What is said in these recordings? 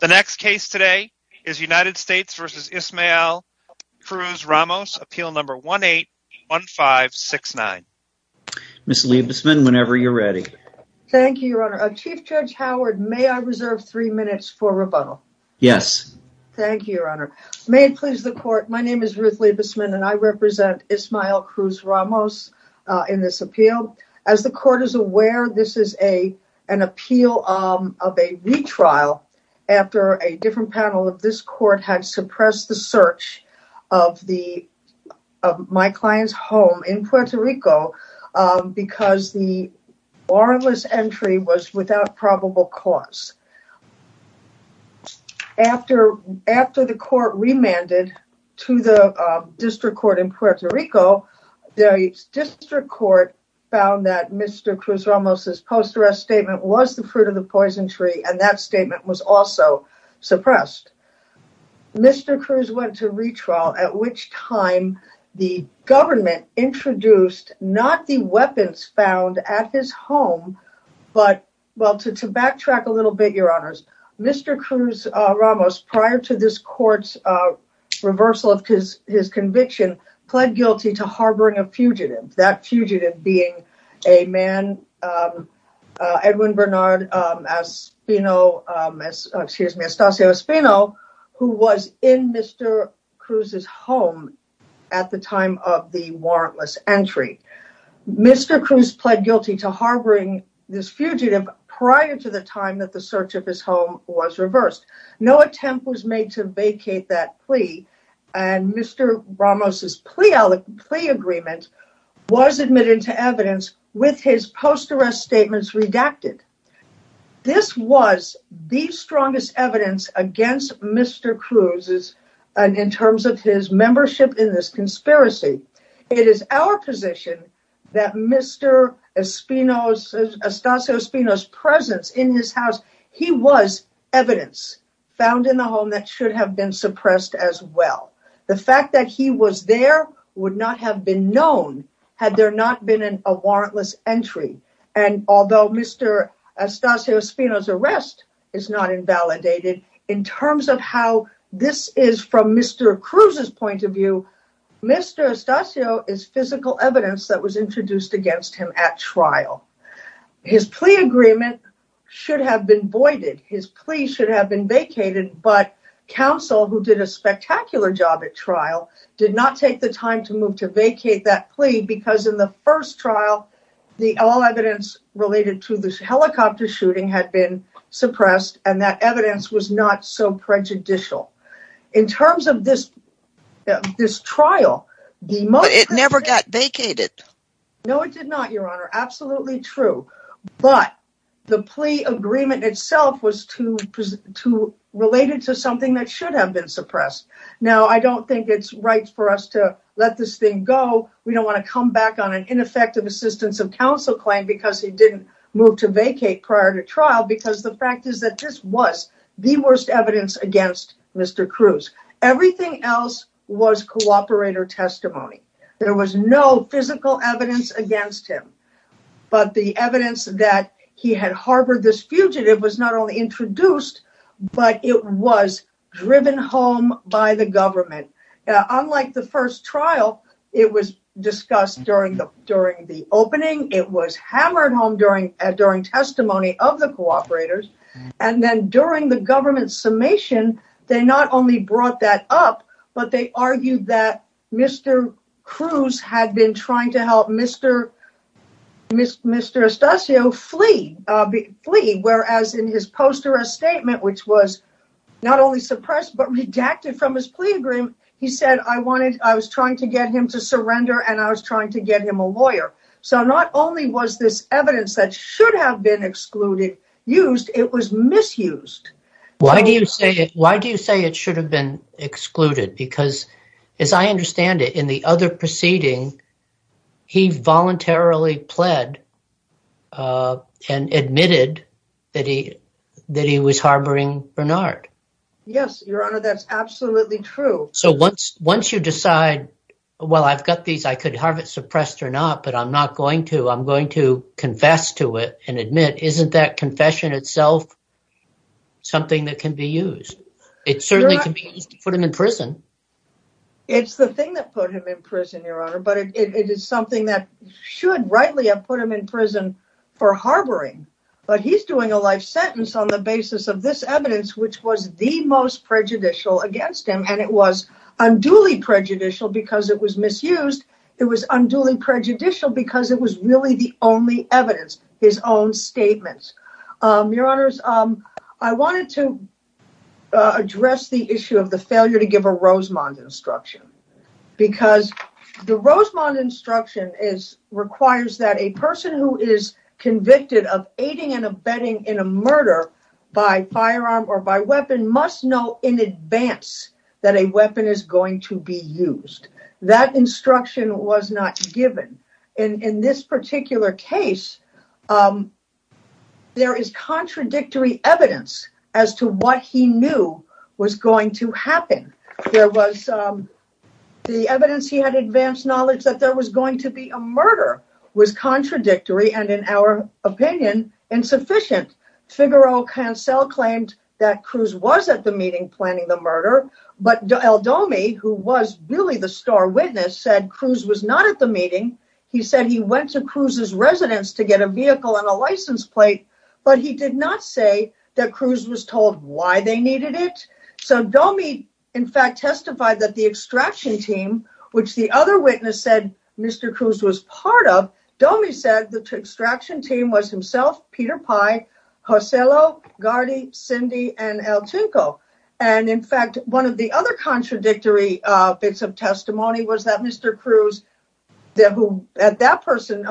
The next case today is United States v. Ismael Cruz-Ramos, Appeal 18-1569. Ms. Liebesman, whenever you're ready. Thank you, Your Honor. Chief Judge Howard, may I reserve three minutes for rebuttal? Yes. Thank you, Your Honor. May it please the Court, my name is Ruth Liebesman, and I represent Ismael Cruz-Ramos in this appeal. As the Court is aware, this is an appeal of a retrial after a different panel of this Court had suppressed the search of my client's home in Puerto Rico because the warrantless entry was without probable cause. After the Court remanded to the District Court in Puerto Rico, the District Court found that Mr. Cruz-Ramos' post-arrest statement was the fruit of the poison tree and that statement was also suppressed. Mr. Cruz went to retrial, at which time the government introduced not the Mr. Cruz-Ramos, prior to this Court's reversal of his conviction, pled guilty to harboring a fugitive, that fugitive being a man, Edwin Bernard Aspino, who was in Mr. Cruz's home at the time of the warrantless entry. Mr. Cruz pled guilty to harboring a fugitive, and the search of his home was reversed. No attempt was made to vacate that plea, and Mr. Ramos' plea agreement was admitted to evidence with his post-arrest statements redacted. This was the strongest evidence against Mr. Cruz in terms of his membership in this conspiracy. It is our position that Mr. Aspino's presence in his house was evidence found in the home that should have been suppressed as well. The fact that he was there would not have been known had there not been a warrantless entry, and although Mr. Aspino's arrest is not invalidated, in terms of how this is from Mr. Cruz's point of view, Mr. Astacio is physical evidence that was introduced against him at trial. His plea agreement should have been voided, his plea should have been vacated, but counsel, who did a spectacular job at trial, did not take the time to move to vacate that plea because in the first trial, the all evidence related to this helicopter shooting had been suppressed, and that evidence was not so prejudicial. In terms of this trial, it never got vacated. No, it did not, Your Honor, absolutely true, but the plea agreement itself was related to something that should have been suppressed. Now, I don't think it's right for us to let this thing go. We don't want to come back on an ineffective assistance of counsel claim because he didn't move to vacate prior to trial because the fact is that this was the worst evidence against Mr. Cruz. Everything else was cooperator testimony. There was no physical evidence against him, but the evidence that he had harbored this fugitive was not only introduced, but it was driven home by the government. Unlike the first trial, it was discussed during the opening. It was hammered home during testimony of the cooperators, and then during the government summation, they not only brought that up, but they argued that Mr. Cruz had been trying to help Mr. Estacio flee, whereas in his post-arrest statement, which was not only suppressed, but redacted from his plea agreement, he said, I was trying to get him to surrender, and I was trying to get him a lawyer. So not only was this evidence that should have been used, it was misused. Why do you say it should have been excluded? Because as I understand it, the other proceeding, he voluntarily pled and admitted that he was harboring Bernard. Yes, Your Honor, that's absolutely true. So once you decide, well, I've got these, I could have it suppressed or not, but I'm not going to. I'm going to confess to it and admit, isn't that confession itself something that can be used? It certainly can be used to put him in prison, Your Honor, but it is something that should rightly have put him in prison for harboring. But he's doing a life sentence on the basis of this evidence, which was the most prejudicial against him. And it was unduly prejudicial because it was misused. It was unduly prejudicial because it was really the only evidence, his own statements. Your Honors, I wanted to address the issue of the failure to give a Rosemond instruction because the Rosemond instruction requires that a person who is convicted of aiding and abetting in a murder by firearm or by weapon must know in advance that a weapon is going to be used. That instruction was not given. In this particular case, there is contradictory evidence as to what he knew was going to happen. The evidence he had advanced knowledge that there was going to be a murder was contradictory and, in our opinion, insufficient. Figaro-Cancel claimed that Cruz was at the meeting planning the murder, but El Domi, who was really the star witness, said Cruz was not at the meeting. He said he went to Cruz's residence to get a vehicle and a license plate, but he did not say that Cruz was told why they needed it. So Domi, in fact, testified that the extraction team, which the other witness said Mr. Cruz was part of, Domi said the extraction team was himself, Peter Pye, Joselo, Gardy, Cindy, and El Chinko. And, in fact, one of the other contradictory bits of testimony was that Mr. Cruz, who at that person,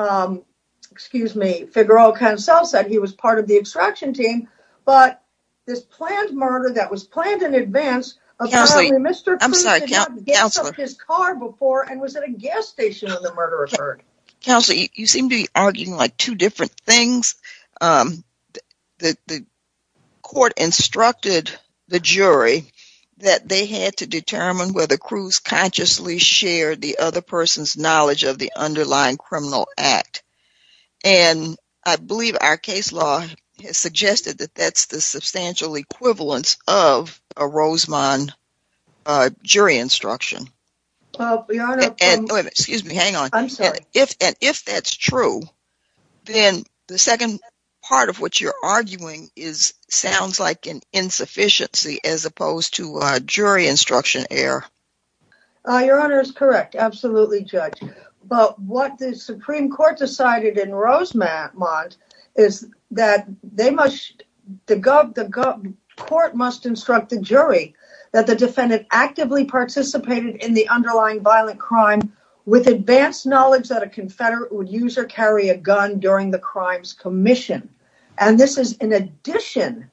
excuse me, Figaro-Cancel said he was part of the extraction team, but this planned murder that was planned in advance, apparently Mr. Cruz did not get his car before and was at a gas station when the murder occurred. Counsel, you seem to be saying that the court instructed the jury that they had to determine whether Cruz consciously shared the other person's knowledge of the underlying criminal act, and I believe our case law has suggested that that's the substantial equivalence of a Rosemond jury instruction. Well, Your Honor, excuse me, hang on. I'm sorry. If that's true, then the second part of what you're arguing sounds like an insufficiency as opposed to a jury instruction error. Your Honor is correct, absolutely, Judge. But what the Supreme Court decided in Rosemond is that the court must instruct the jury that the defendant actively participated in the underlying violent crime with advanced knowledge that a confederate would use or carry a gun during the crime's commission. And this is in addition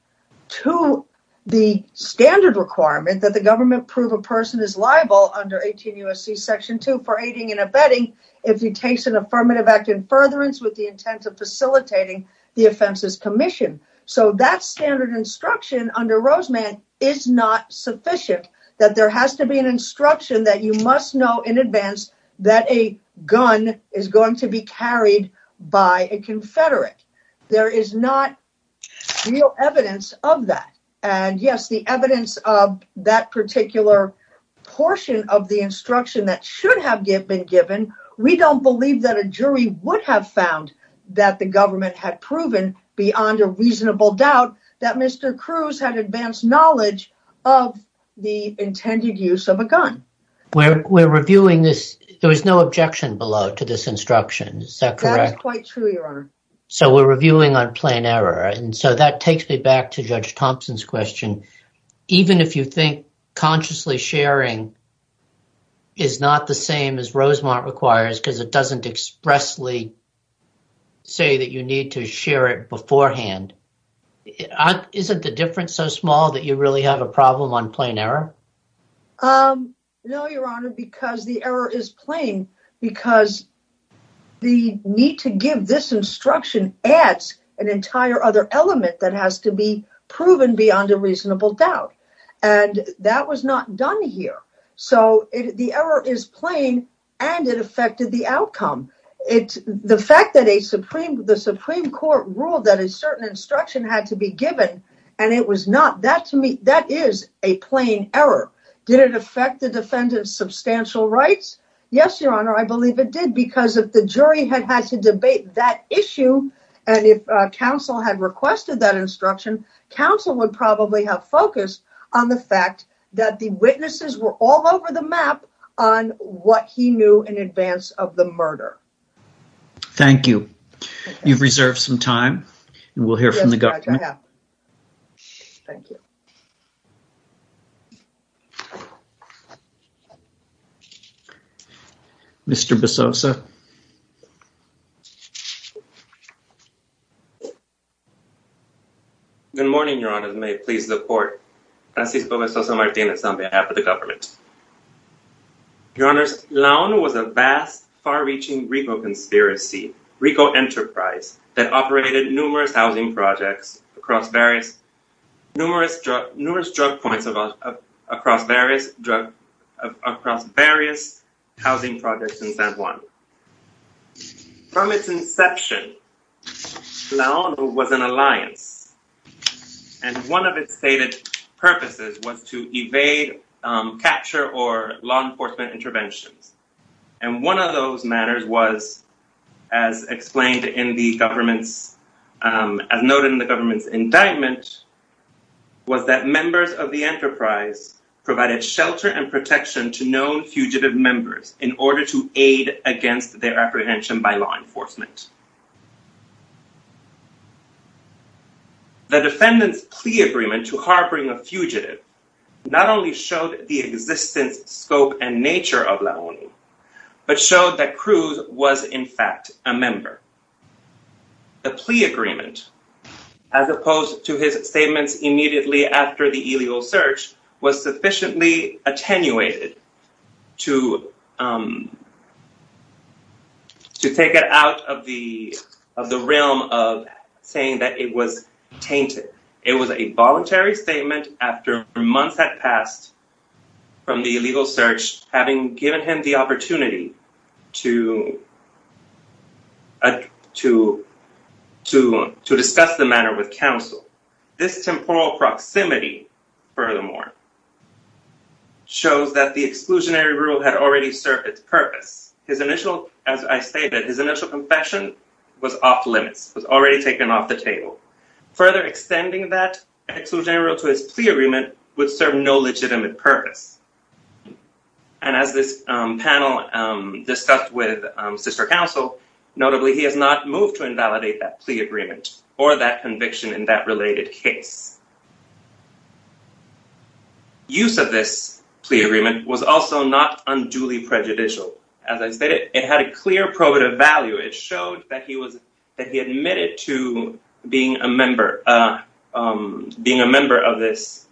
to the standard requirement that the government prove a person is liable under 18 U.S.C. Section 2 for aiding and abetting if he takes an affirmative act in furtherance with the intent of facilitating the offense's commission. So that standard instruction under Rosemond is not sufficient, that there has to be an instruction that you must know in advance that a gun is going to be carried by a confederate. There is not real evidence of that. And yes, the evidence of that particular portion of the instruction that should have been given, we don't believe that a jury would have found that the government had advanced knowledge of the intended use of a gun. We're reviewing this, there was no objection below to this instruction, is that correct? That is quite true, Your Honor. So we're reviewing on plain error. And so that takes me back to Judge Thompson's question. Even if you think consciously sharing is not the same as Rosemond requires, because it doesn't expressly say that you need to share it beforehand, isn't the difference so small that you really have a problem on plain error? No, Your Honor, because the error is plain, because the need to give this instruction adds an entire other element that has to be proven beyond a reasonable doubt. And that was not done here. So the error is plain, and it affected the outcome. The fact that the Supreme Court ruled that a certain instruction had to be given, and it was not, that is a plain error. Did it affect the defendant's substantial rights? Yes, Your Honor, I believe it did, because if the jury had had to debate that issue, and if counsel had requested that instruction, counsel would probably have focused on the fact that the witnesses were all over the map on what he knew in advance of the murder. Thank you. You've reserved some time, and we'll hear from the government. Yes, Judge, I have. Thank you. Mr. Bezosa. Good morning, Your Honor. May I please report? Francisco Bezosa Martinez on behalf of the government. Your Honor, Leon was a vast, far-reaching RICO conspiracy, RICO enterprise, that operated numerous housing projects across various drug points, across various housing projects in San Juan. From its inception, Leon was an alliance, and one of its stated purposes was to evade, capture, or law enforcement interventions. One of those matters was, as explained in the government's, as noted in the government's indictment, was that members of the enterprise provided shelter and protection to known fugitive members in order to aid against their apprehension by law enforcement. The defendant's plea agreement to harboring a fugitive not only showed the existence, scope, and nature of Leon, but showed that Cruz was, in fact, a member. The plea agreement, as opposed to his statements immediately after the illegal search, was sufficiently attenuated to take it out of the realm of saying that it was having given him the opportunity to discuss the matter with counsel. This temporal proximity, furthermore, shows that the exclusionary rule had already served its purpose. His initial, as I stated, his initial confession was off-limits, was already taken off the table. Further extending that exclusionary rule to his plea agreement would serve no legitimate purpose. As this panel discussed with sister counsel, notably, he has not moved to invalidate that plea agreement or that conviction in that related case. Use of this plea agreement was also not unduly prejudicial. As I stated, it had a clear probative value. It showed that he was, that he admitted to being a member, being a member of this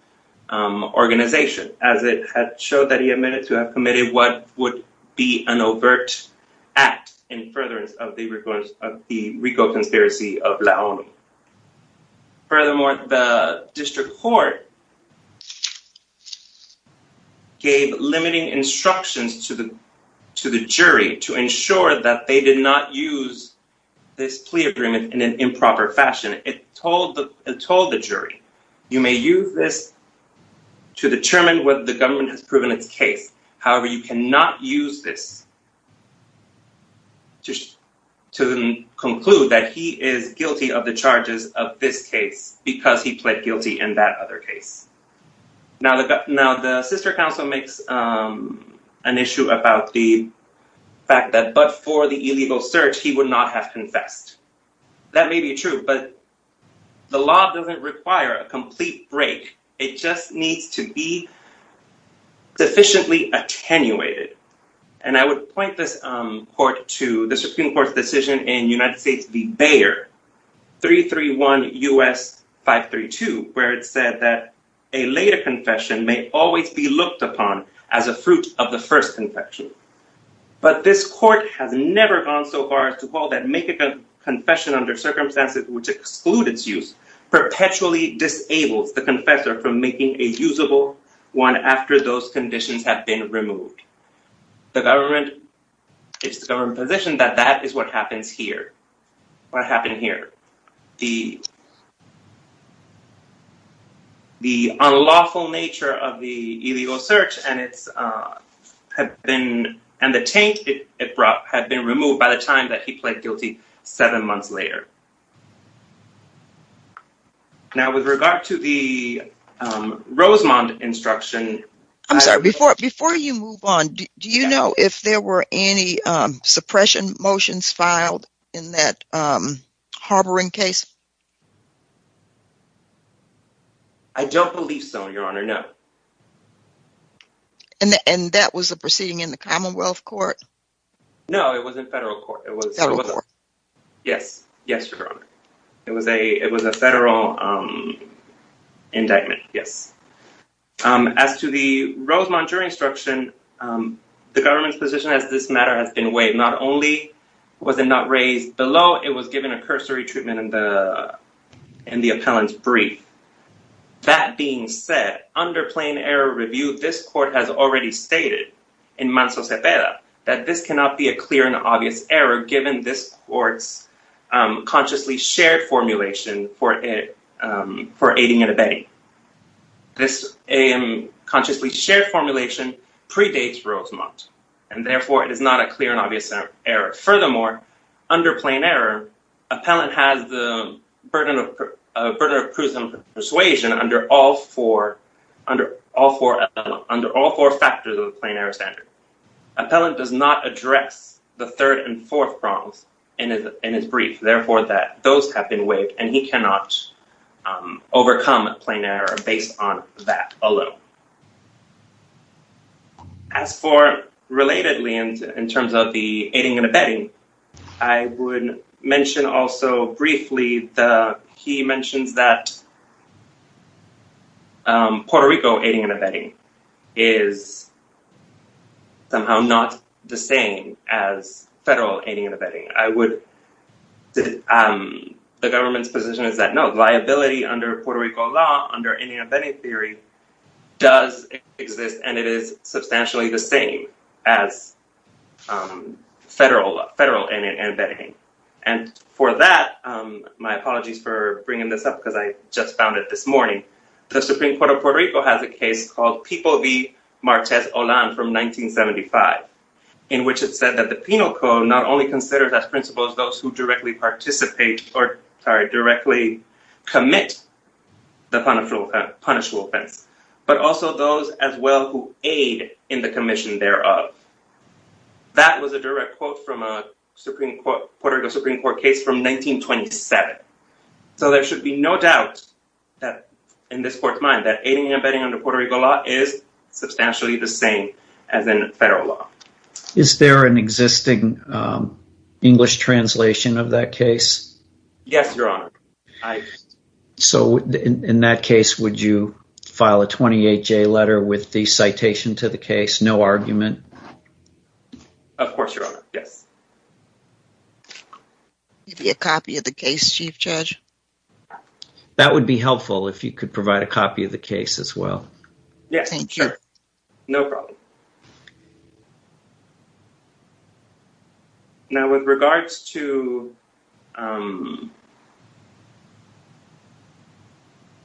organization, as it had showed that he admitted to have committed what would be an overt act in furtherance of the Rico conspiracy of Leon. Furthermore, the district court gave limiting instructions to the jury to ensure that they did not use this plea agreement in an improper fashion. It told the jury, you may use this to determine whether the government has proven its case. However, you cannot use this just to conclude that he is guilty of the charges of this case because he pled guilty in that other case. Now the sister counsel makes an issue about the fact that, but for the illegal search, he would not have confessed. That may be true, but the law doesn't require a complete break. It just needs to be sufficiently attenuated. And I would point this court to the Supreme Court's decision in United States v. Bayer, 331 U.S. 532, where it said that a later confession may always be looked upon as a fruit of the first confession. But this court has never gone so far as to call that making a confession under circumstances which exclude its use perpetually disables the confessor from making a usable one after those conditions have been removed. The government, it's the government position that that is what happens here, what happened here. The unlawful nature of the illegal search and the taint it brought had been removed by the time that he pled guilty seven months later. Now, with regard to the Rosemond instruction... I'm sorry, before you move on, do you know if there were any suppression motions filed in that harboring case? I don't believe so, Your Honor, no. And that was a proceeding in the Commonwealth Court? No, it was in federal court. Yes, yes, Your Honor. It was a federal indictment, yes. As to the Rosemond jury instruction, the government's position as this matter has been weighed not only was it not raised below, it was given a cursory treatment in the appellant's brief. That being said, under plain error review, this court has already stated in Manso Cepeda that this cannot be a clear and obvious error given this court's consciously shared formulation for aiding and abetting. This consciously shared formulation predates Rosemond, and therefore it is not a clear and obvious error. Furthermore, under plain error, appellant has the burden of prudent persuasion under all four factors of the plain error standard. Appellant does not address the third and fourth wrongs in his brief, therefore, that those have been weighed, and he cannot overcome a plain error based on that alone. Now, as for relatedly in terms of the aiding and abetting, I would mention also briefly, he mentions that Puerto Rico aiding and abetting is somehow not the same as federal aiding and abetting. I would, the government's position is that no, liability under Puerto Rico law, under aiding and abetting theory, does exist, and it is substantially the same as federal aiding and abetting. And for that, my apologies for bringing this up because I just found it this morning, the Supreme Court of Puerto Rico has a case called PIPO v. Martez-Olan from 1975, in which it said that the penal code not only considers as principles those directly participate, or sorry, directly commit the punishable offense, but also those as well who aid in the commission thereof. That was a direct quote from a Supreme Court, Puerto Rico Supreme Court case from 1927. So there should be no doubt that in this court's mind that aiding and abetting under Puerto Rico law is substantially the same as in federal law. Is there an existing English translation of that case? Yes, Your Honor. So in that case, would you file a 28-J letter with the citation to the case, no argument? Of course, Your Honor, yes. Give you a copy of the case, Chief Judge. That would be helpful if you could provide a copy of the case as well. Yes, no problem. Now, with regards to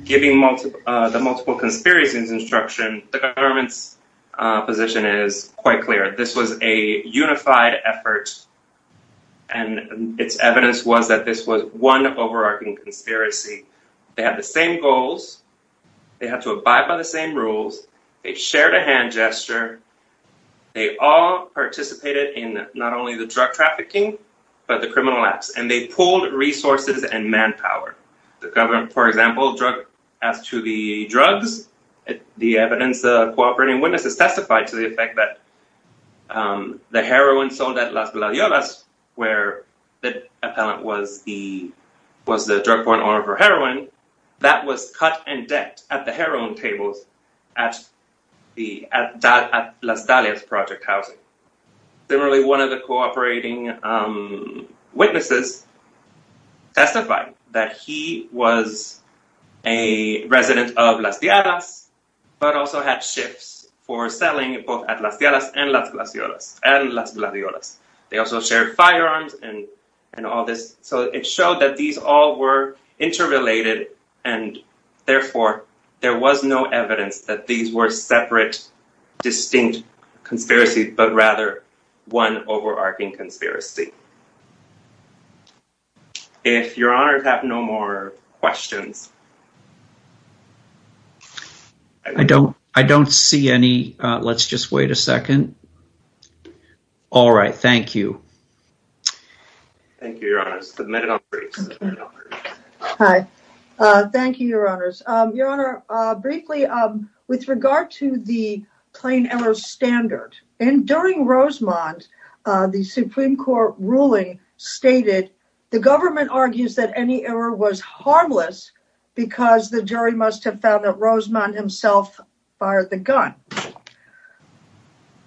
giving the multiple conspiracies instruction, the government's position is quite clear. This was a unified effort, and its evidence was that this was one overarching conspiracy. They have the goals, they have to abide by the same rules, they shared a hand gesture, they all participated in not only the drug trafficking, but the criminal acts, and they pulled resources and manpower. The government, for example, drug, as to the drugs, the evidence of cooperating witnesses testified to the effect that the heroin sold at Las Villalobas, where the appellant was the drug-borne owner for heroin, that was cut and decked at the heroin tables at Las Dalias project housing. Similarly, one of the cooperating witnesses testified that he was a resident of Las Villalobas, but also had shifts for selling both at Las Villalobas and Las Gladiolas. They also shared firearms and all this, so it showed that these all were interrelated, and therefore, there was no evidence that these were separate, distinct conspiracies, but rather one overarching conspiracy. If your honor have no more questions. I don't see any. Let's just wait a second. All right, thank you. Thank you, your honor. Hi, thank you, your honors. Your honor, briefly, with regard to the plain error standard, and during Rosemond, the Supreme Court ruling stated, the government argues that any error was harmless because the jury must have found that Rosemond himself fired the gun.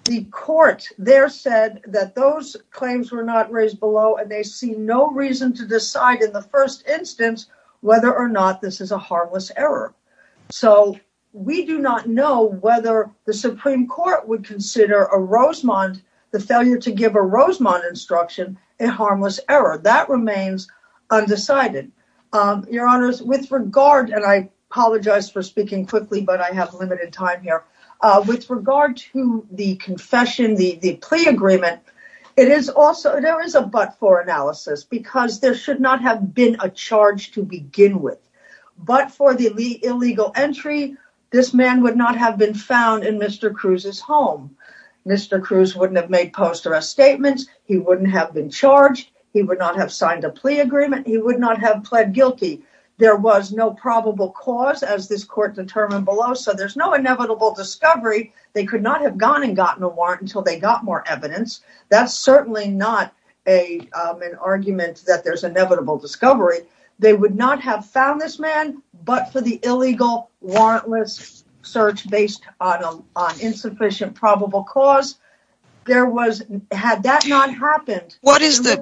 The court there said that those claims were not raised below, and they see no reason to decide in the first instance whether or not this is a harmless error. So, we do not know whether the Supreme Court would consider a Rosemond, the failure to give a Rosemond instruction, a harmless error. That remains undecided. Your honors, with regard, and I apologize for speaking quickly, but I have limited time here. With regard to the confession, the plea agreement, there is a but-for analysis, because there should not have been a charge to begin with, but for the illegal entry, this man would not have been found in Mr. Cruz's home. Mr. Cruz wouldn't have made a plea agreement. He would not have pled guilty. There was no probable cause, as this court determined below, so there's no inevitable discovery. They could not have gone and gotten a warrant until they got more evidence. That's certainly not an argument that there's inevitable discovery. They would not have found this man, but for the illegal warrantless search based on insufficient probable cause, there was, had that not happened. What is the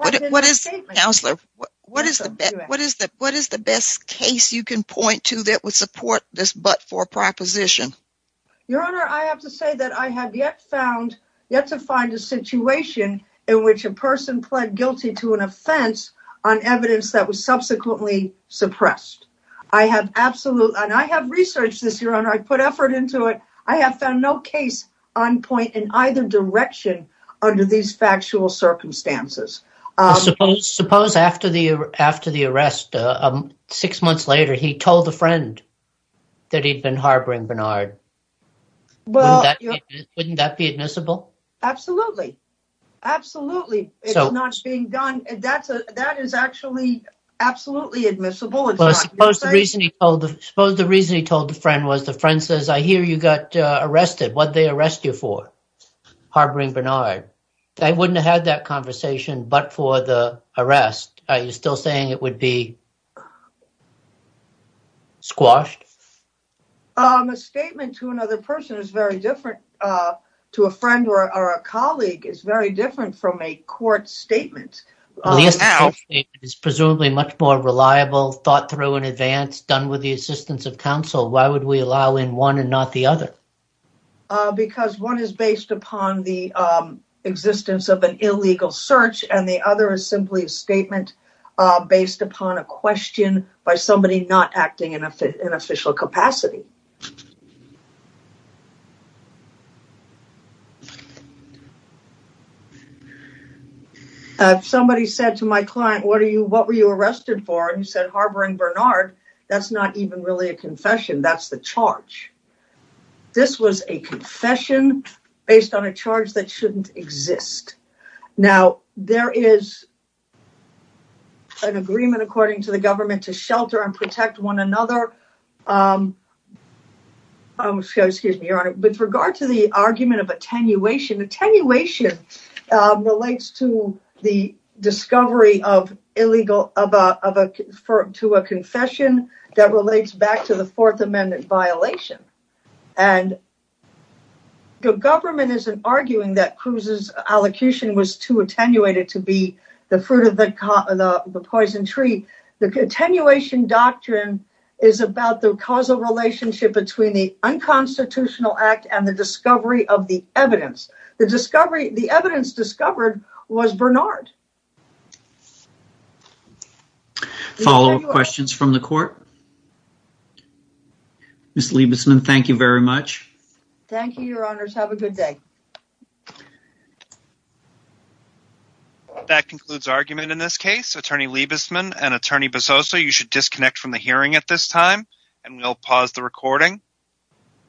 best case you can point to that would support this but-for proposition? Your honor, I have to say that I have yet found, yet to find, a situation in which a person pled guilty to an offense on evidence that was subsequently suppressed. I have absolutely, and I have researched this, your honor. I put effort into it. I have found no case on point in either direction under these factual circumstances. Suppose after the arrest, six months later, he told a friend that he'd been harboring Bernard. Wouldn't that be admissible? Absolutely. Absolutely. It's not being done. That is actually absolutely admissible. Suppose the reason he told the friend was the friend says, I hear you got arrested. What'd they arrest you for? Harboring Bernard. I wouldn't have had that conversation but for the arrest. Are you still saying it would be squashed? A statement to another person is very different to a friend or a colleague. It's very different from a court statement. The court statement is presumably much more reliable, thought through in advance, done with the assistance of counsel. Why would we allow in one and not the other? Because one is based upon the existence of an illegal search and the other is simply a statement based upon a question by somebody not acting in an official capacity. If somebody said to my client, what were you arrested for? He said, harboring Bernard. That's not even really a confession. That's the charge. This was a confession based on a charge that shouldn't exist. Now, there is an agreement according to the government to shelter and protect one another. With regard to the argument of attenuation, attenuation relates to the discovery of a confession that relates back to the Fourth Amendment violation. The government isn't arguing that Cruz's allocation was too attenuated to be the fruit of the poison tree. The attenuation doctrine is about the causal relationship between the unconstitutional act and the discovery of the evidence. The evidence discovered was Bernard. Any follow-up questions from the court? Ms. Liebesman, thank you very much. Thank you, your honors. Have a good day. That concludes argument in this case. Attorney Liebesman and Attorney Bezosa, you should disconnect from the hearing at this time and we'll pause the recording.